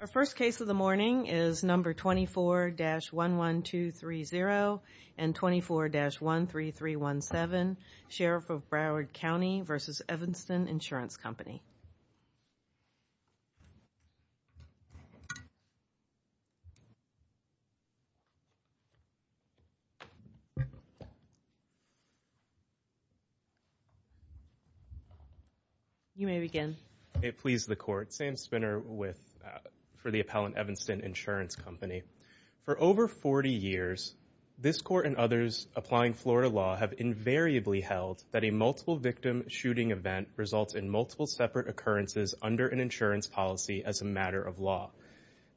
Our first case of the morning is number 24-11230 and 24-13317 Sheriff of Broward County v. Evanston Insurance Company. You may begin. It pleased the court. Sam Spinner with for the appellant Evanston Insurance Company. For over 40 years this court and others applying Florida law have invariably held that a multiple victim shooting event results in multiple separate occurrences under an insurance policy as a matter of law.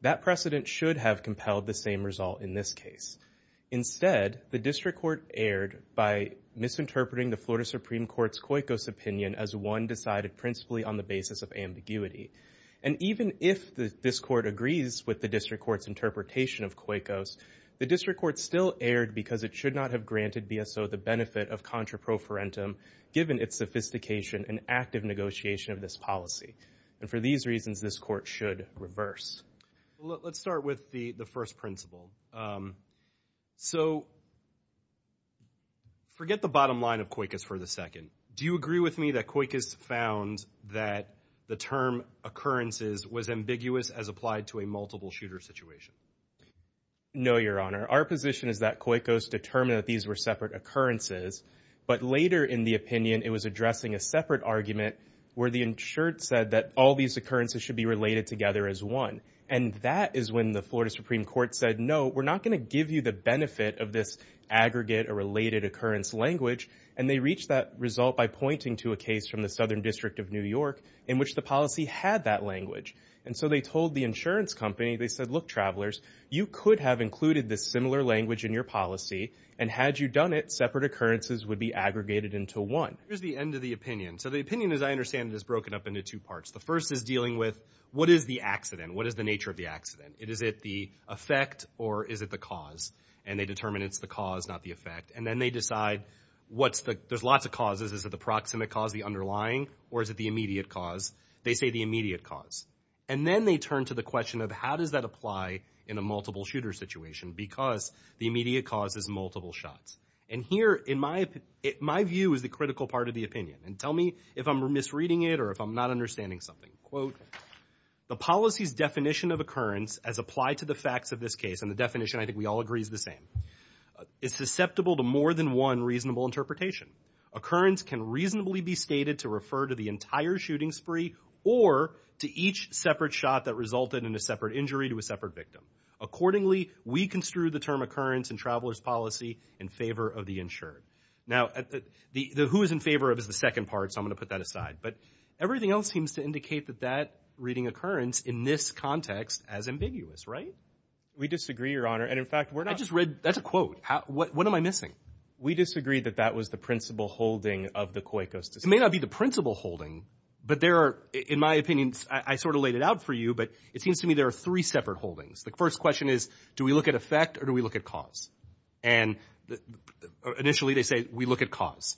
That precedent should have compelled the same result in this case. Instead, the district court erred by misinterpreting the Florida Supreme Court's COICOS opinion as one decided principally on the basis of ambiguity. And even if this court agrees with the district court's interpretation of COICOS, the district court still erred because it should not have granted BSO the benefit of given its sophistication and active negotiation of this policy. And for these reasons this court should reverse. Let's start with the the first principle. So forget the bottom line of COICOS for the second. Do you agree with me that COICOS found that the term occurrences was ambiguous as applied to a multiple shooter situation? No, Your Honor. Our position is that COICOS determined that these were separate occurrences, but later in the opinion it was addressing a separate argument where the insured said that all these occurrences should be related together as one. And that is when the Florida Supreme Court said, no, we're not going to give you the benefit of this aggregate or related occurrence language. And they reached that result by pointing to a case from the Southern District of New York in which the policy had that language. And so they told the insurance company, they said, look travelers, you could have included this similar language in your policy and had you done it, separate occurrences would be aggregated into one. Here's the end of the opinion. So the opinion as I understand it is broken up into two parts. The first is dealing with what is the accident? What is the nature of the accident? Is it the effect or is it the cause? And they determine it's the cause, not the effect. And then they decide what's the, there's lots of causes. Is it the proximate cause, the underlying, or is it the immediate cause? They say the immediate cause. And then they turn to the question of how does that apply in a multiple shooter situation because the immediate cause is multiple shots. And here in my, my view is the critical part of the opinion. And tell me if I'm misreading it or if I'm not understanding something. Quote, the policy's definition of occurrence as applied to the facts of this case, and the definition I think we all agree is the same, is susceptible to more than one reasonable interpretation. Occurrence can reasonably be stated to refer to the entire shooting spree or to each separate shot that resulted in a separate injury to a separate victim. Accordingly, we construe the term occurrence in Traveler's Policy in favor of the insured. Now, the, the who is in favor of is the second part, so I'm going to put that aside. But everything else seems to indicate that that reading occurrence in this context as ambiguous, right? We disagree, Your Honor. And in fact, we're not. I just read, that's a quote. How, what, what am I missing? We disagree that that was the principal holding of the COICOS decision. It may not be the principal holding, but there are, in my opinion, I, I sort of laid it out for you, but it seems to me there are three separate holdings. The first question is, do we look at effect or do we look at cause? And initially they say, we look at cause.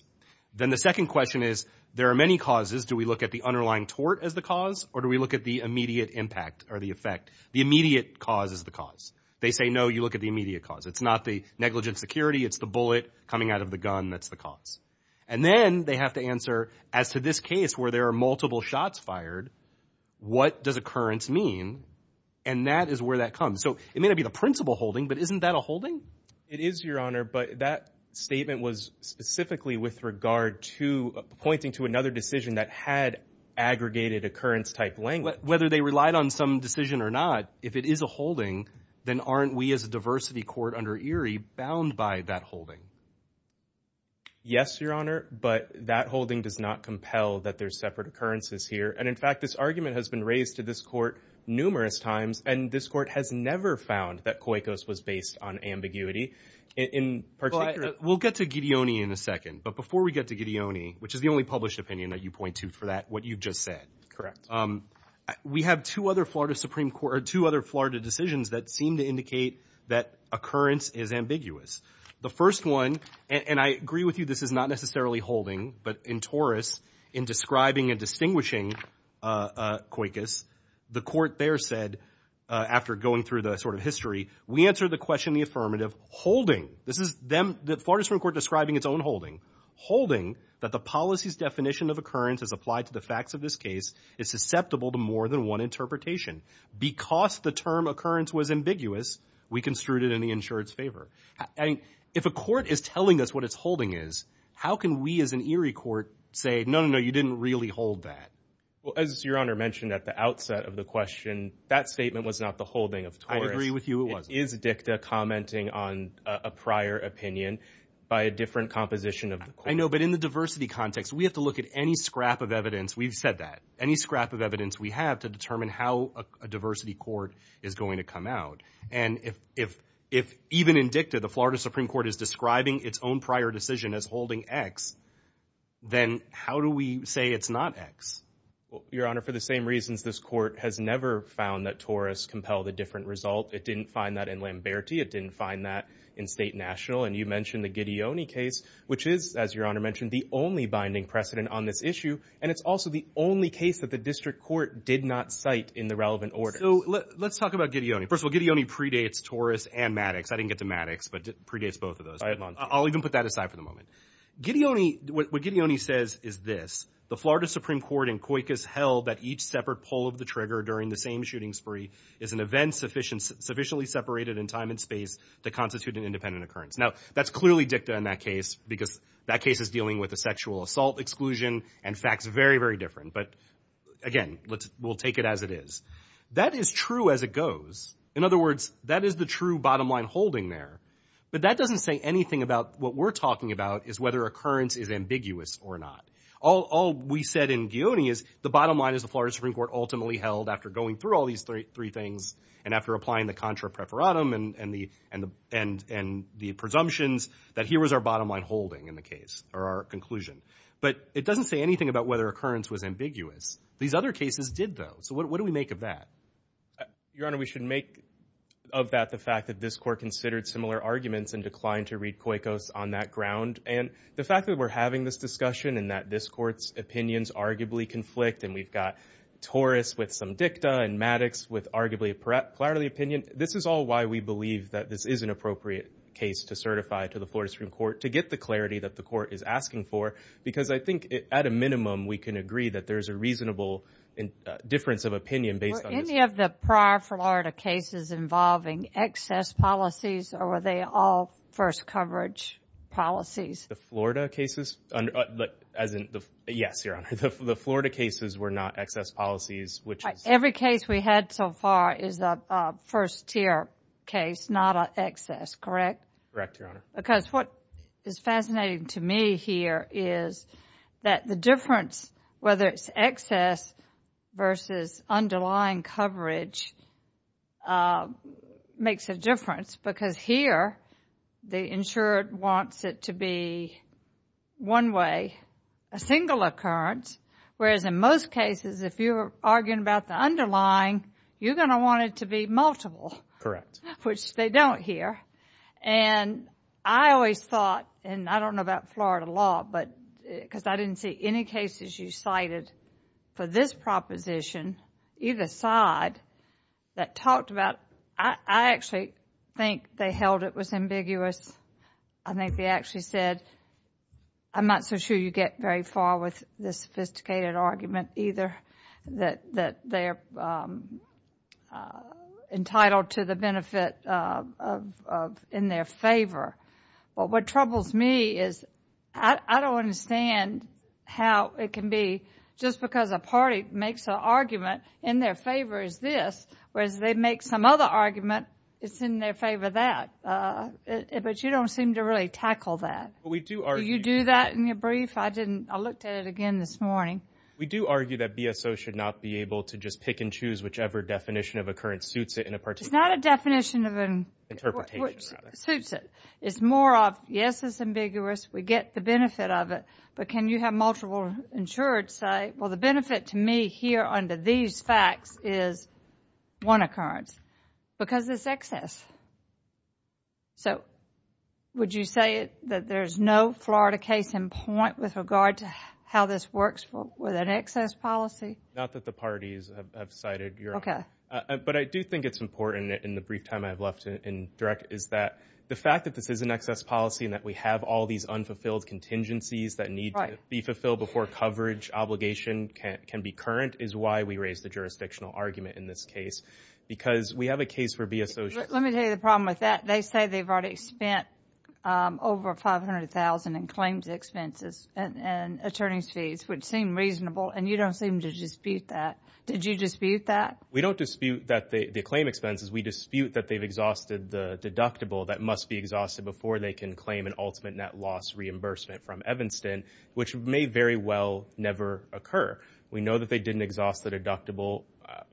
Then the second question is, there are many causes. Do we look at the underlying tort as the cause or do we look at the immediate impact or the effect? The immediate cause is the cause. They say, no, you look at the immediate cause. It's not the negligent security, it's the bullet coming out of the gun that's the cause. And then they have to answer, as to this case where there are multiple shots fired, what does occurrence mean? And that is where that comes. So it may not be the principal holding, but isn't that a holding? It is, Your Honor, but that statement was specifically with regard to pointing to another decision that had aggregated occurrence type language. Whether they relied on some decision or not, if it is a holding, then aren't we as a diversity court under Erie bound by that holding? Yes, Your Honor, but that holding does not compel that there's separate occurrences here. And in fact, this argument has been raised to this court numerous times and this court has never found that COICOS was based on ambiguity. We'll get to Gidioni in a second, but before we get to Gidioni, which is the only published opinion that you point to for that, what you've just said. Correct. We have two other Florida Supreme Court, two other Florida decisions that seem to indicate that occurrence is ambiguous. The first one, and I agree with you, this is not necessarily holding, but in Taurus, in describing and distinguishing COICOS, the court there said, after going through the sort of history, we answer the question, the affirmative, holding. This is them, the Florida Supreme Court describing its own holding. Holding that the policy's definition of occurrence as applied to the facts of this case is susceptible to more than one Because the term occurrence was ambiguous, we construed it in the insured's favor. If a court is telling us what its holding is, how can we as an Erie court say, no, no, no, you didn't really hold that? Well, as Your Honor mentioned at the outset of the question, that statement was not the holding of Taurus. I agree with you, it wasn't. It is DICTA commenting on a prior opinion by a different composition of the court. I know, but in the diversity context, we have to look at any scrap of evidence, we've said that, any scrap of evidence we have to determine how a diversity court is going to come out. And if even in DICTA, the Florida Supreme Court is describing its own prior decision as holding X, then how do we say it's not X? Your Honor, for the same reasons, this court has never found that Taurus compelled a different result. It didn't find that in Lamberti. It didn't find that in State National. And you mentioned the Gidioni case, which is, as Your Honor mentioned, the only binding precedent on this issue, and it's also the only case that the district court did not cite in the relevant order. So let's talk about Gidioni. First of all, Gidioni predates Taurus and Maddox. I didn't get to Maddox, but it predates both of those. I'll even put that aside for the moment. Gidioni, what Gidioni says is this, the Florida Supreme Court in Coicas held that each separate pull of the trigger during the same shooting spree is an event sufficiently separated in time and space to constitute an independent occurrence. Now, that's clearly DICTA in that case, because that case is dealing with a sexual assault exclusion and facts very, very different. But again, we'll take it as it is. That is true as it goes. In other words, that is the true bottom line holding there. But that doesn't say anything about what we're talking about is whether occurrence is ambiguous or not. All we said in Gidioni is the bottom line is the Florida Supreme Court ultimately held after going through all these three things and after applying the contra preferatum and the presumptions that here was our bottom line holding in the case, or our conclusion. But it doesn't say anything about whether occurrence was ambiguous. These other cases did, though. So what do we make of that? Your Honor, we should make of that the fact that this court considered similar arguments and declined to read Coicas on that ground. And the fact that we're having this discussion and that this court's opinions arguably conflict, and we've got Torres with some DICTA and Maddox with arguably a clarity of opinion, this is all why we believe that this is an appropriate case to certify to the Florida Supreme Court to get the clarity that the court is asking for. Because I think at a minimum, we can agree that there's a reasonable difference of opinion based on this. Were any of the prior Florida cases involving excess policies or were they all first coverage policies? The Florida cases? As in the... Yes, Your Honor. The Florida cases were not excess policies, which is... Every case we had so far is a first tier case, not an excess, correct? Correct, Your Honor. Because what is fascinating to me here is that the difference, whether it's excess versus underlying coverage, makes a difference. Because here, the insured wants it to be one way, a single occurrence, whereas in most cases, if you're arguing about the underlying, you're going to want it to be multiple, which they don't here. And I always thought, and I don't know about Florida law, because I didn't see any cases you cited for this proposition, either side, that talked about... I actually think they held it was ambiguous. I think they actually said, I'm not so sure you get very far with this sophisticated argument, either, that they're entitled to the benefit in their favor. What troubles me is, I don't understand how it can be, just because a party makes an argument, in their favor is this, whereas they make some other argument, it's in their favor that. But you don't seem to really tackle that. We do argue. Do you do that in your brief? I looked at it again this morning. We do argue that BSO should not be able to just pick and choose whichever definition of occurrence suits it in a particular... It's not a definition of... Interpretation, rather. ...suits it. It's more of, yes, it's ambiguous. We get the benefit of it. But can you have multiple insured say, well, the benefit to me here under these facts is one occurrence, because it's excess. So, would you say that there's no Florida case in point with regard to how this works with an excess policy? Not that the parties have cited. Okay. But I do think it's important, in the brief time I've left in direct, is that the fact that this is an excess policy, and that we have all these unfulfilled contingencies that need to be fulfilled before coverage obligation can be current, is why we raise the jurisdictional argument in this case. Because we have a case for BSO... Let me tell you the problem with that. They say they've already spent over $500,000 in claims expenses and attorney's fees, which seem reasonable, and you don't seem to dispute that. Did you dispute that? We don't dispute the claim expenses. We dispute that they've exhausted the deductible that must be exhausted before they can claim an ultimate net loss reimbursement from Evanston, which may very well never occur. We know that they didn't exhaust the deductible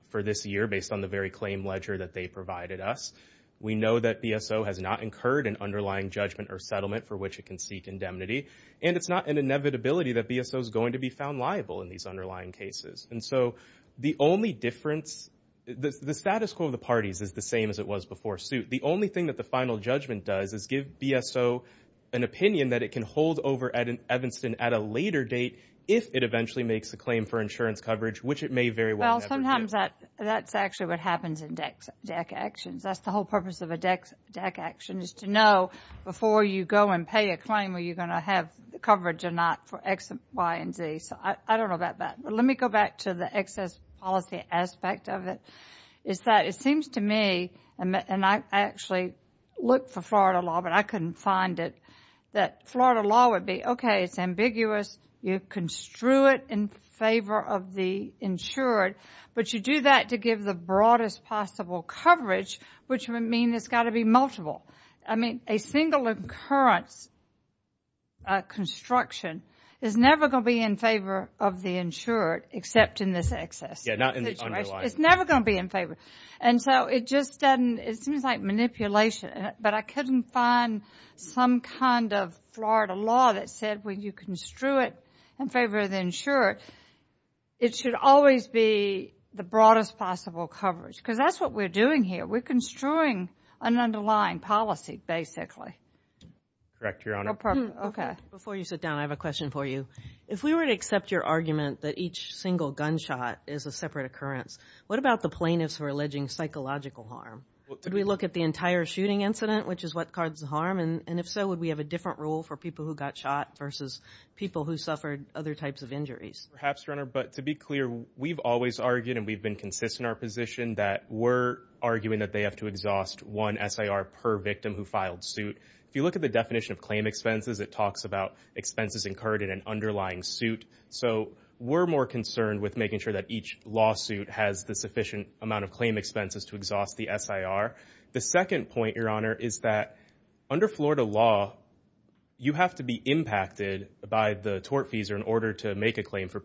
for this year, based on the very claim ledger that they provided us. We know that BSO has not incurred an underlying judgment or settlement for which it can seek indemnity. And it's not an inevitability that BSO is going to be found liable in these underlying cases. And so, the only difference... The status quo of the parties is the same as it was before suit. The only thing that the final judgment does is give BSO an opinion that it can hold over Evanston at a later date, if it eventually makes a claim for insurance coverage, which it may very well never get. Well, sometimes that's actually what happens in DAC actions. That's the whole purpose of a DAC action, is to know before you go and pay a claim, are you going to have coverage or not for X, Y, and Z. So, I don't know about that. But let me go back to the excess policy aspect of it, is that it seems to me, and I actually looked for Florida law, but I couldn't find it, that Florida law would be, OK, it's ambiguous, you construe it in favor of the insured, but you do that to give the broadest possible coverage, which would mean there's got to be multiple. I mean, a single occurrence construction is never going to be in favor of the insured, except in this excess. Yeah, not in the underlying. It's never going to be in favor. And so, it just doesn't... It seems like manipulation. But I couldn't find some kind of Florida law that said when you construe it in favor of the insured, it should always be the broadest possible coverage, because that's what we're doing here. We're construing an underlying policy, basically. Correct, Your Honor. OK. Before you sit down, I have a question for you. If we were to accept your argument that each single gunshot is a separate occurrence, what about the plaintiffs who are alleging psychological harm? Did we look at the entire shooting incident, which is what cards the harm, and if so, would we have a different rule for people who got shot versus people who suffered other types of injuries? Perhaps, Your Honor. But to be clear, we've always argued and we've been consistent in our position that we're arguing that they have to exhaust one SIR per victim who filed suit. If you look at the definition of claim expenses, it talks about expenses incurred in an underlying suit. So, we're more concerned with making sure that each lawsuit has the sufficient amount of claim expenses to exhaust the SIR. The second point, Your Honor, is that under Florida law, you have to be impacted by the tortfeasor in order to make a claim for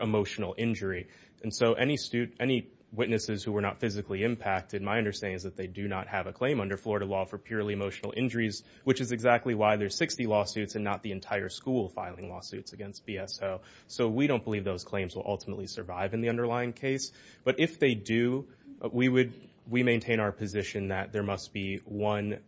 emotional injury. And so, any witnesses who were not physically impacted, my understanding is that they do not have a claim under Florida law for purely emotional injuries, which is exactly why there are 60 lawsuits and not the entire school filing lawsuits against BSO. So we don't believe those claims will ultimately survive in the underlying case. But if they do, we maintain our position that there must be one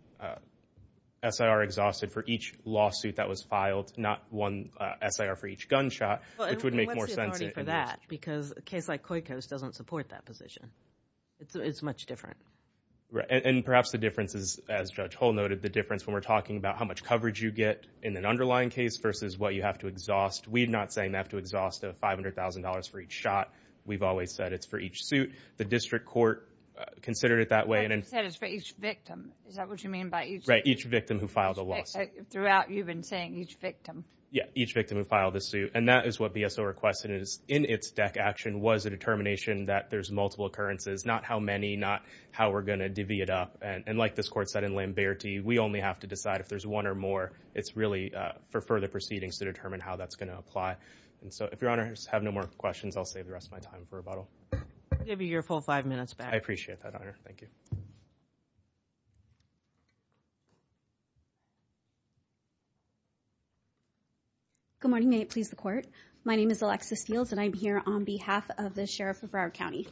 SIR exhausted for each lawsuit that was filed, not one SIR for each gunshot, which would make more sense in this case. Well, and what's the authority for that? Because a case like Coyco's doesn't support that position. It's much different. Right. And perhaps the difference is, as Judge Hull noted, the difference when we're talking about how much coverage you get in an underlying case versus what you have to exhaust. We're not saying you have to exhaust $500,000 for each shot. We've always said it's for each suit. The district court considered it that way. But you said it's for each victim. Is that what you mean by each? Right. Each victim who filed a lawsuit. Throughout, you've been saying each victim. Yeah. Each victim who filed a suit. And that is what BSO requested is, in its DEC action, was a determination that there's multiple occurrences, not how many, not how we're going to divvy it up. And like this court said in Lamberti, we only have to decide if there's one or more. It's really for further proceedings to determine how that's going to apply. And so, if your honors have no more questions, I'll save the rest of my time for rebuttal. I'll give you your full five minutes back. I appreciate that, Honor. Thank you. Good morning. May it please the Court. My name is Alexis Fields and I'm here on behalf of the Sheriff of Broward County.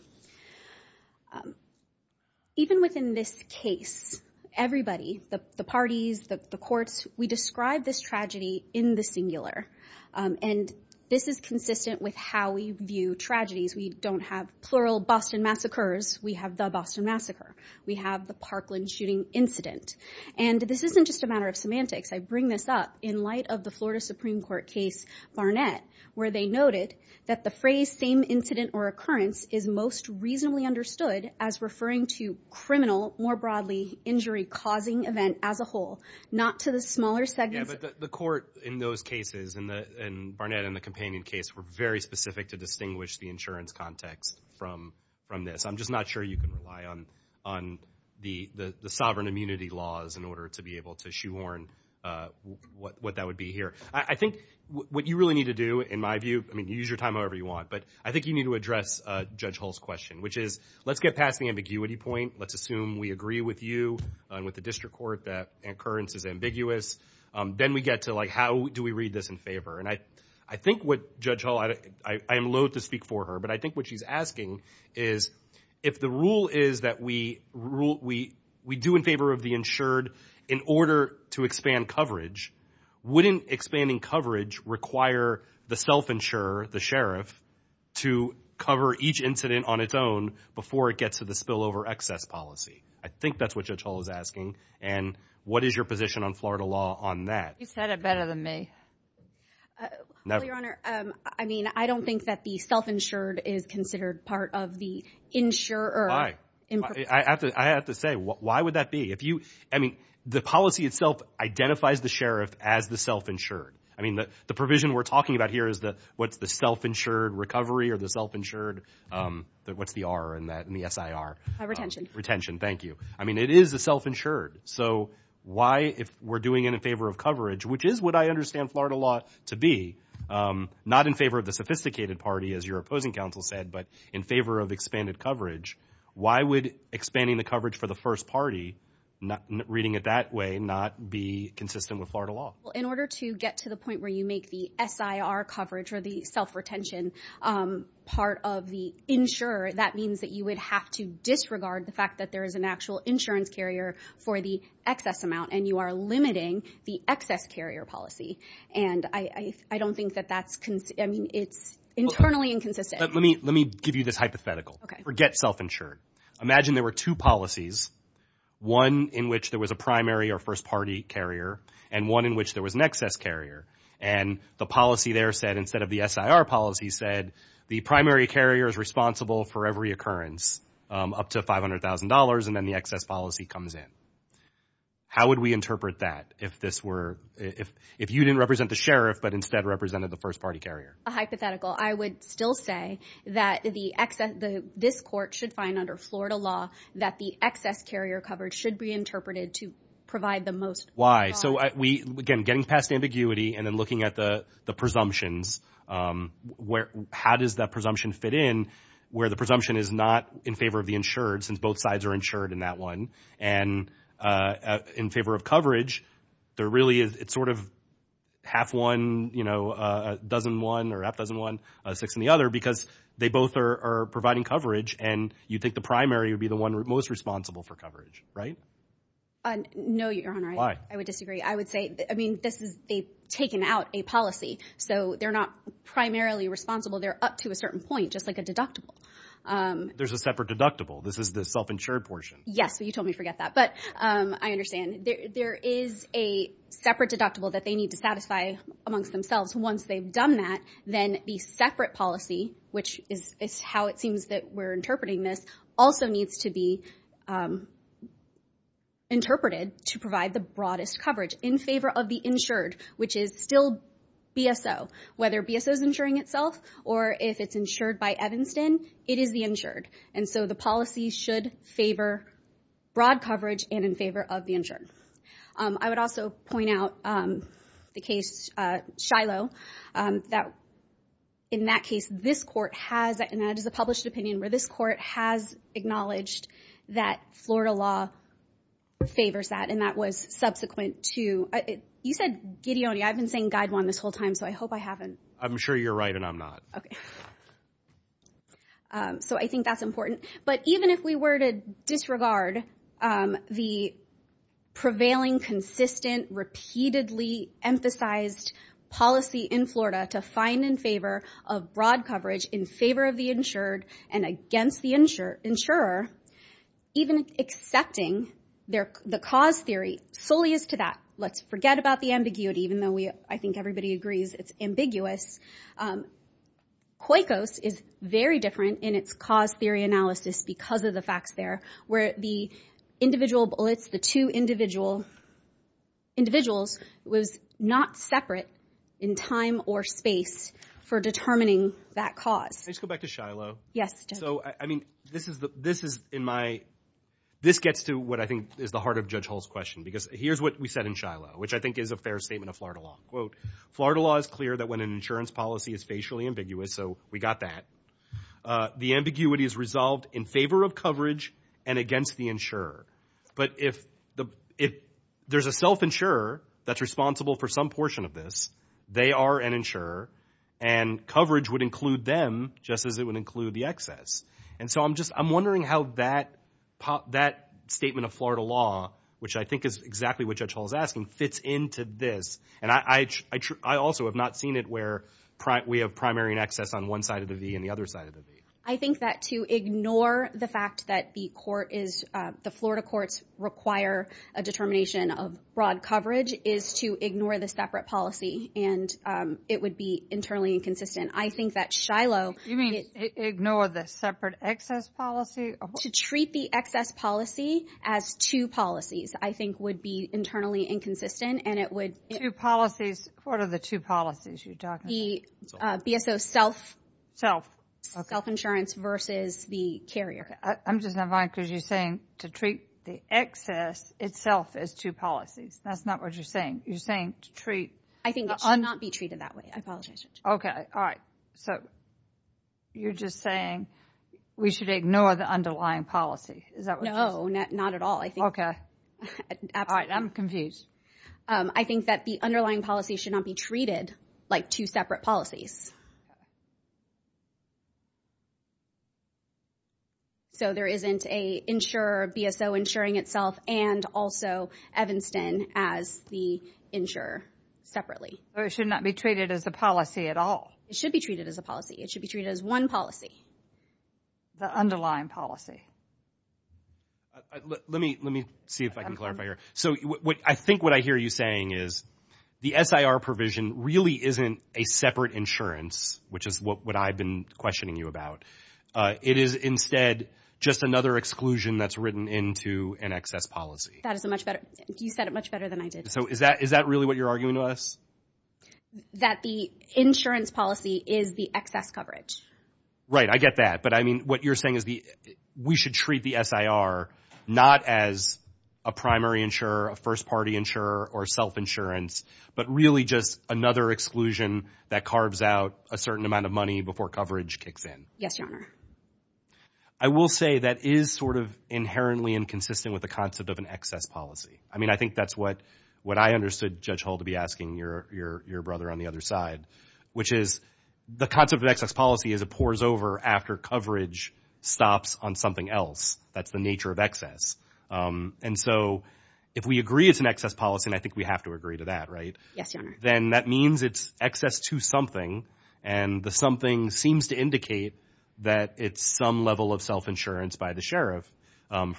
Even within this case, everybody, the parties, the courts, we describe this tragedy in the singular. And this is consistent with how we view tragedies. We don't have plural Boston massacres. We have the Boston massacre. We have the Parkland shooting incident. And this isn't just a matter of semantics. I bring this up in light of the Florida Supreme Court case Barnett, where they noted that the phrase, same incident or occurrence, is most reasonably understood as referring to criminal, more broadly, injury-causing event as a whole, not to the smaller segments. Yeah, but the court in those cases, in Barnett and the companion case, were very specific to distinguish the insurance context from this. I'm just not sure you can rely on the sovereign immunity laws in order to be able to shoehorn what that would be here. I think what you really need to do, in my view, I mean, use your time however you want, but I think you need to address Judge Hull's question, which is, let's get past the ambiguity point. Let's assume we agree with you and with the district court that occurrence is ambiguous. Then we get to how do we read this in favor? And I think what Judge Hull, I am loathe to speak for her, but I think what she's asking is if the rule is that we do in favor of the insured in order to expand coverage, wouldn't expanding coverage require the self-insurer, the sheriff, to cover each incident on its own before it gets to the spillover excess policy? I think that's what Judge Hull is asking, and what is your position on Florida law on that? You said it better than me. Well, Your Honor, I mean, I don't think that the self-insured is considered part of the insurer. Why? I have to say, why would that be? If you, I mean, the policy itself identifies the sheriff as the self-insured. I mean, the provision we're talking about here is the, what's the self-insured recovery or the self-insured, what's the R in that, in the SIR? Retention. Retention, thank you. I mean, it is a self-insured. So why, if we're doing it in favor of coverage, which is what I understand Florida law to be, not in favor of the sophisticated party, as your opposing counsel said, but in favor of expanded coverage, why would expanding the coverage for the first party, reading it that way, not be consistent with Florida law? Well, in order to get to the point where you make the SIR coverage or the self-retention part of the insurer, that means that you would have to disregard the fact that there is an actual insurance carrier for the excess amount and you are limiting the excess carrier policy. And I don't think that that's, I mean, it's internally inconsistent. Let me give you this hypothetical. Forget self-insured. Imagine there were two policies, one in which there was a primary or first party carrier and one in which there was an excess carrier. And the policy there said, instead of the SIR policy said, the primary carrier is responsible for every occurrence up to $500,000 and then the excess policy comes in. How would we interpret that if this were, if you didn't represent the sheriff, but instead represented the first party carrier? Hypothetical. I would still say that the excess, this court should find under Florida law that the excess carrier coverage should be interpreted to provide the most. Why? So we, again, getting past ambiguity and then looking at the presumptions, how does that presumption fit in where the presumption is not in favor of the insured, since both sides are insured in that one, and in favor of coverage, there really is, it's sort of half one, you know, a dozen one or half dozen one, six in the other, because they both are providing coverage and you think the primary would be the one most responsible for coverage, right? No, Your Honor. Why? I would disagree. I would say, I mean, this is, they've taken out a policy, so they're not primarily responsible. They're up to a certain point, just like a deductible. There's a separate deductible. This is the self-insured portion. Yes. You told me to forget that, but I understand. There is a separate deductible that they need to satisfy amongst themselves. Once they've done that, then the separate policy, which is how it seems that we're interpreting this, also needs to be interpreted to provide the broadest coverage in favor of the insured, which is still BSO. Whether BSO's insuring itself or if it's insured by Evanston, it is the insured, and so the policy should favor broad coverage and in favor of the insured. I would also point out the case Shiloh, that in that case, this court has, and that is a published opinion, where this court has acknowledged that Florida law favors that, and that was subsequent to, you said Gideoni. I've been saying Gideoni this whole time, so I hope I haven't. I'm sure you're right, and I'm not. So I think that's important. But even if we were to disregard the prevailing, consistent, repeatedly-emphasized policy in Florida to find in favor of broad coverage in favor of the insured and against the insurer, even accepting the cause theory solely as to that, let's forget about the ambiguity, even though I think everybody agrees it's ambiguous, COICOS is very different in its cause theory analysis because of the facts there, where the individual bullets, the two individual, individuals was not separate in time or space for determining that cause. Let's go back to Shiloh. Yes, Judge. So, I mean, this is in my, this gets to what I think is the heart of Judge Hull's question because here's what we said in Shiloh, which I think is a fair statement of Florida law. Quote, Florida law is clear that when an insurance policy is facially ambiguous, so we got that, the ambiguity is resolved in favor of coverage and against the insurer. But if there's a self-insurer that's responsible for some portion of this, they are an insurer and coverage would include them just as it would include the excess. And so I'm just, I'm wondering how that statement of Florida law, which I think is exactly what Judge Hull is asking, fits into this. And I also have not seen it where we have primary and excess on one side of the V and the other side of the V. I think that to ignore the fact that the court is, the Florida courts require a determination of broad coverage is to ignore the separate policy and it would be internally inconsistent. I think that Shiloh... You mean ignore the separate excess policy? To treat the excess policy as two policies, I think would be internally inconsistent and it would... Two policies. What are the two policies you're talking about? The BSO self-insurance versus the carrier. I'm just not buying it because you're saying to treat the excess itself as two policies. That's not what you're saying. You're saying to treat... I think it should not be treated that way. I apologize, Judge. Okay. All right. So you're just saying we should ignore the underlying policy. Is that what you're saying? No. Not at all. I think... All right. I'm confused. I think that the underlying policy should not be treated like two separate policies. So there isn't a insurer, BSO insuring itself and also Evanston as the insurer separately. Or it should not be treated as a policy at all. It should be treated as a policy. It should be treated as one policy. The underlying policy. Let me see if I can clarify here. So I think what I hear you saying is the SIR provision really isn't a separate insurance, which is what I've been questioning you about. It is instead just another exclusion that's written into an excess policy. That is a much better... You said it much better than I did. So is that really what you're arguing to us? That the insurance policy is the excess coverage. Right. I get that. But I mean, what you're saying is we should treat the SIR not as a primary insurer, a first-party insurer, or self-insurance, but really just another exclusion that carves out a certain amount of money before coverage kicks in. Yes, Your Honor. I will say that is sort of inherently inconsistent with the concept of an excess policy. I mean, I think that's what I understood Judge Hull to be asking your brother on the other side, which is the concept of excess policy is it pours over after coverage stops on something else. That's the nature of excess. And so if we agree it's an excess policy, and I think we have to agree to that, right? Yes, Your Honor. Then that means it's excess to something, and the something seems to indicate that it's some level of self-insurance by the sheriff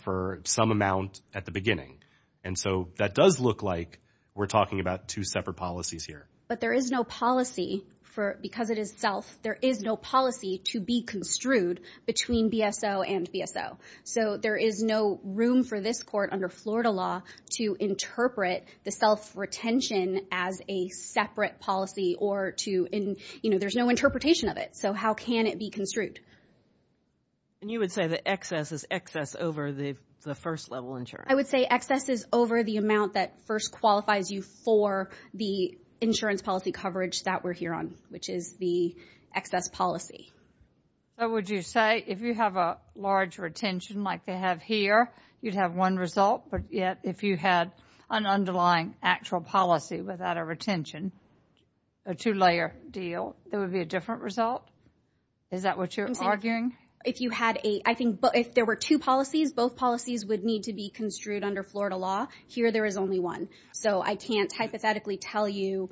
for some amount at the beginning. And so that does look like we're talking about two separate policies here. But there is no policy for, because it is self, there is no policy to be construed between BSO and BSO. So there is no room for this court under Florida law to interpret the self-retention as a separate policy or to, you know, there's no interpretation of it. So how can it be construed? And you would say that excess is excess over the first-level insurer? I would say excess is over the amount that first qualifies you for the insurance policy coverage that we're here on, which is the excess policy. Would you say if you have a large retention like they have here, you'd have one result, but yet if you had an underlying actual policy without a retention, a two-layer deal, there would be a different result? Is that what you're arguing? If you had a, I think, if there were two policies, both policies would need to be construed under Florida law. Here there is only one. So I can't hypothetically tell you.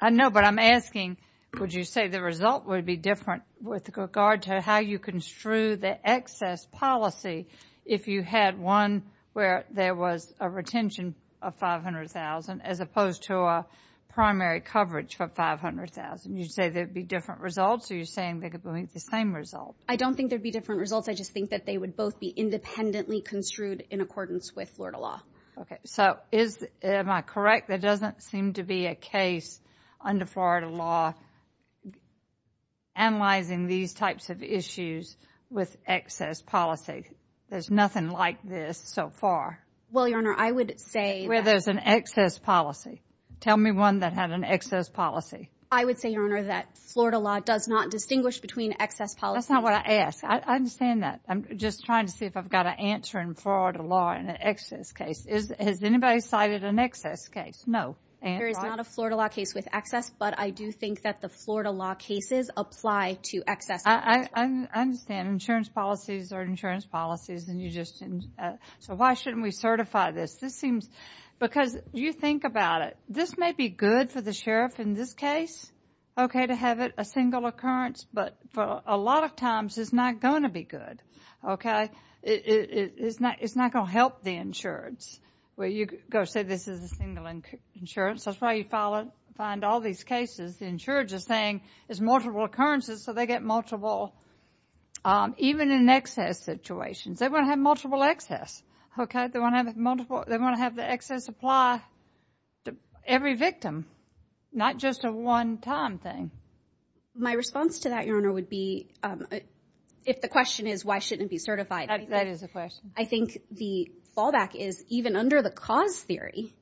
I know, but I'm asking, would you say the result would be different with regard to how you construe the excess policy if you had one where there was a retention of $500,000 as opposed to a primary coverage for $500,000? You say there'd be different results, or you're saying they could be the same result? I don't think there'd be different results. I just think that they would both be independently construed in accordance with Florida law. So is, am I correct, there doesn't seem to be a case under Florida law analyzing these types of issues with excess policy? There's nothing like this so far. Well, Your Honor, I would say that... Where there's an excess policy. Tell me one that had an excess policy. I would say, Your Honor, that Florida law does not distinguish between excess policy... That's not what I asked. I understand that. I'm just trying to see if I've got an answer in Florida law in an excess case. Has anybody cited an excess case? There is not a Florida law case with excess, but I do think that the Florida law cases apply to excess policy. I understand. Insurance policies are insurance policies, and you just... So why shouldn't we certify this? This seems... Because you think about it. This may be good for the sheriff in this case, okay, to have it a single occurrence. But for a lot of times, it's not going to be good, okay? It's not going to help the insurance where you go, say, this is a single insurance. That's why you find all these cases, the insurance is saying it's multiple occurrences, so they get multiple... Even in excess situations, they want to have multiple excess, okay? They want to have the excess apply to every victim, not just a one-time thing. My response to that, Your Honor, would be, if the question is why shouldn't it be certified? That is a question. I think the fallback is, even under the cause theory,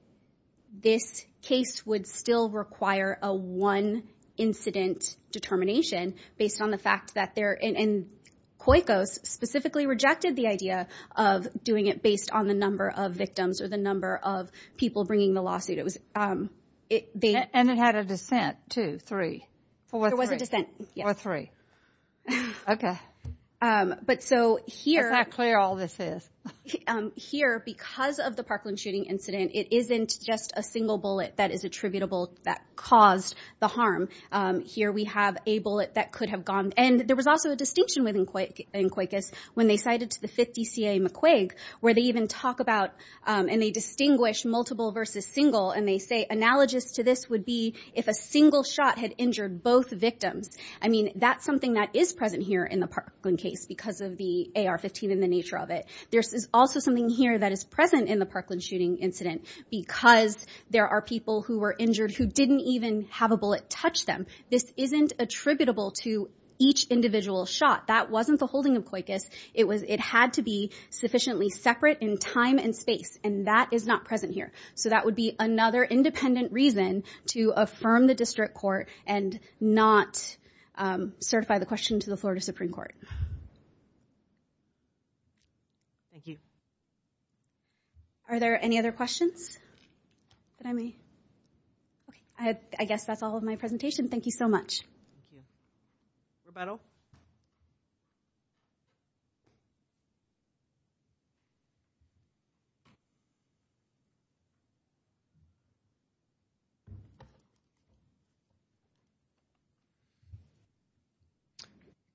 this case would still require a one incident determination based on the fact that they're... And COICOS specifically rejected the idea of doing it based on the number of victims or the number of people bringing the lawsuit. It was... And it had a dissent, two, three, four, three. There was a dissent, yes. Or three. Okay. But so here... Is that clear all this is? Here, because of the Parkland shooting incident, it isn't just a single bullet that is attributable that caused the harm. Here we have a bullet that could have gone... And there was also a distinction within COICOS when they cited to the 50 CA McQuaig, where they even talk about, and they distinguish multiple versus single, and they say, analogous to this would be if a single shot had injured both victims. I mean, that's something that is present here in the Parkland case, because of the AR-15 and the nature of it. There's also something here that is present in the Parkland shooting incident, because there are people who were injured who didn't even have a bullet touch them. This isn't attributable to each individual shot. That wasn't the holding of COICOS. It had to be sufficiently separate in time and space, and that is not present here. So that would be another independent reason to affirm the district court and not certify the question to the Florida Supreme Court. Thank you. Are there any other questions? I guess that's all of my presentation. Thank you so much. Thank you.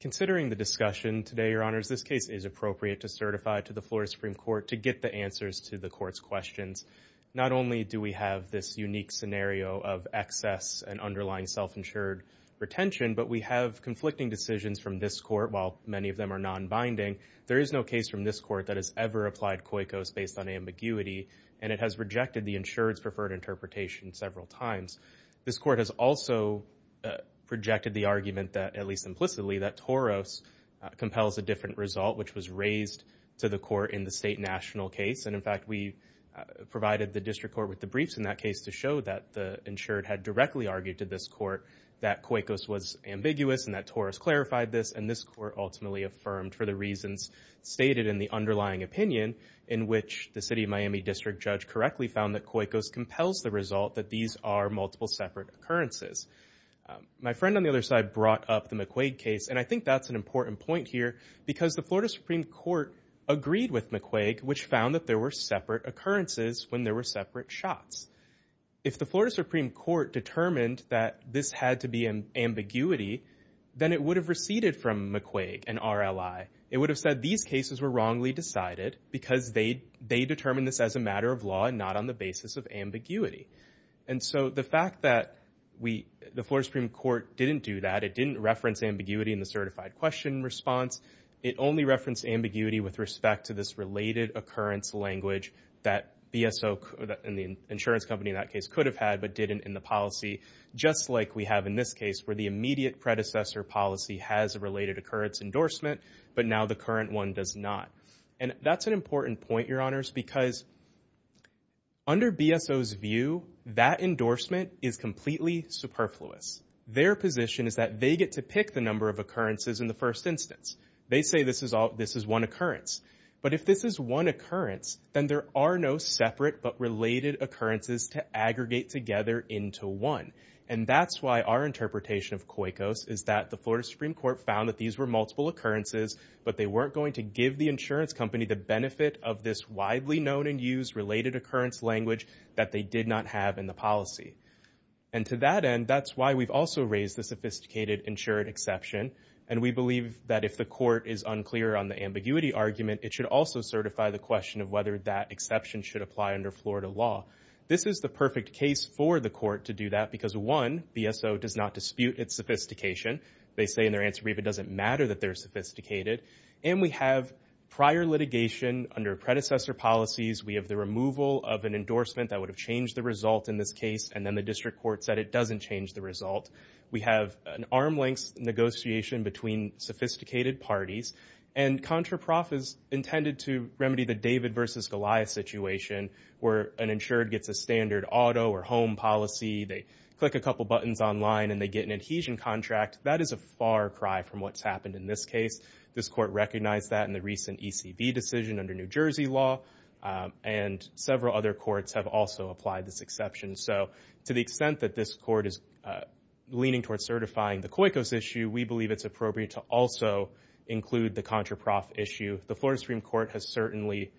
Considering the discussion today, Your Honors, this case is appropriate to certify to the Florida Supreme Court to get the answers to the court's questions. Not only do we have this unique scenario of excess and underlying self-insured retention, but we have conflicting decisions from this court, while many of them are non-binding. There is no case from this court that has ever applied COICOS based on ambiguity, and it has rejected the insured's preferred interpretation several times. This court has also projected the argument that, at least implicitly, that TOROS compels a different result, which was raised to the court in the state and national case. And in fact, we provided the district court with the briefs in that case to show that the insured had directly argued to this court that COICOS was ambiguous and that TOROS clarified this, and this court ultimately affirmed for the reasons stated in the underlying opinion in which the City of Miami District Judge correctly found that COICOS compels the result that these are multiple separate occurrences. My friend on the other side brought up the McQuaig case, and I think that's an important point here, because the Florida Supreme Court agreed with McQuaig, which found that there were separate occurrences when there were separate shots. If the Florida Supreme Court determined that this had to be an ambiguity, then it would have receded from McQuaig and RLI. It would have said these cases were wrongly decided because they determined this as a matter of law and not on the basis of ambiguity. And so the fact that the Florida Supreme Court didn't do that, it didn't reference ambiguity in the certified question response, it only referenced ambiguity with respect to this related occurrence language that BSO and the insurance company in that case could have had but didn't in the policy, just like we have in this case, where the immediate predecessor policy has a related occurrence endorsement, but now the current one does not. And that's an important point, Your Honors, because under BSO's view, that endorsement is completely superfluous. Their position is that they get to pick the number of occurrences in the first instance. They say this is one occurrence. But if this is one occurrence, then there are no separate but related occurrences to aggregate together into one. And that's why our interpretation of COICOS is that the Florida Supreme Court found that these were multiple occurrences, but they weren't going to give the insurance company the benefit of this widely known and used related occurrence language that they did not have in the policy. And to that end, that's why we've also raised the sophisticated insured exception. And we believe that if the court is unclear on the ambiguity argument, it should also certify the question of whether that exception should apply under Florida law. This is the perfect case for the court to do that because, one, BSO does not dispute its sophistication. They say in their answer brief it doesn't matter that they're sophisticated. And we have prior litigation under predecessor policies. We have the removal of an endorsement that would have changed the result in this case, and then the district court said it doesn't change the result. We have an arm's length negotiation between sophisticated parties. And CONTRAPROF is intended to remedy the David versus Goliath situation where an insured gets a standard auto or home policy. They click a couple buttons online and they get an adhesion contract. That is a far cry from what's happened in this case. This court recognized that in the recent ECV decision under New Jersey law. And several other courts have also applied this exception. So to the extent that this court is leaning towards certifying the COICOS issue, we believe it's appropriate to also include the CONTRAPROF issue. The Florida Supreme Court has certainly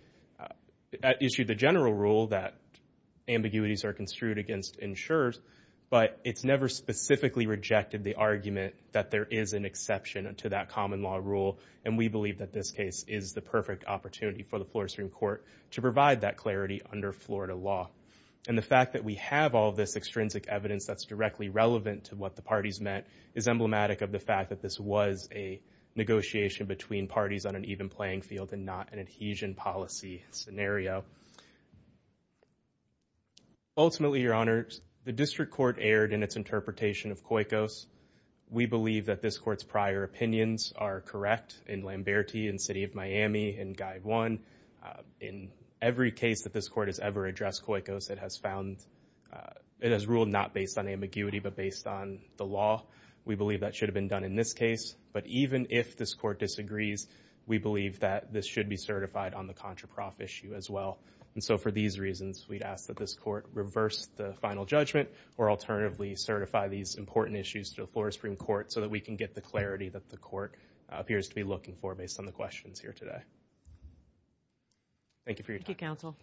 issued the general rule that ambiguities are construed against insurers, but it's never specifically rejected the argument that there is an exception to that common law rule. And we believe that this case is the perfect opportunity for the Florida Supreme Court to provide that clarity under Florida law. And the fact that we have all this extrinsic evidence that's directly relevant to what the parties met is emblematic of the fact that this was a negotiation between parties on an even playing field and not an adhesion policy scenario. Ultimately, Your Honor, the district court erred in its interpretation of COICOS. We believe that this court's prior opinions are correct in Lamberti and City of Miami and Guide 1. In every case that this court has ever addressed COICOS, it has found, it has ruled not based on ambiguity but based on the law. We believe that should have been done in this case. But even if this court disagrees, we believe that this should be certified on the CONTRAPROF issue as well. And so for these reasons, we'd ask that this court reverse the final judgment or alternatively certify these important issues to the Florida Supreme Court so that we can get the clarity that the court appears to be looking for based on the questions here today. Thank you for your time. Thank you, counsel.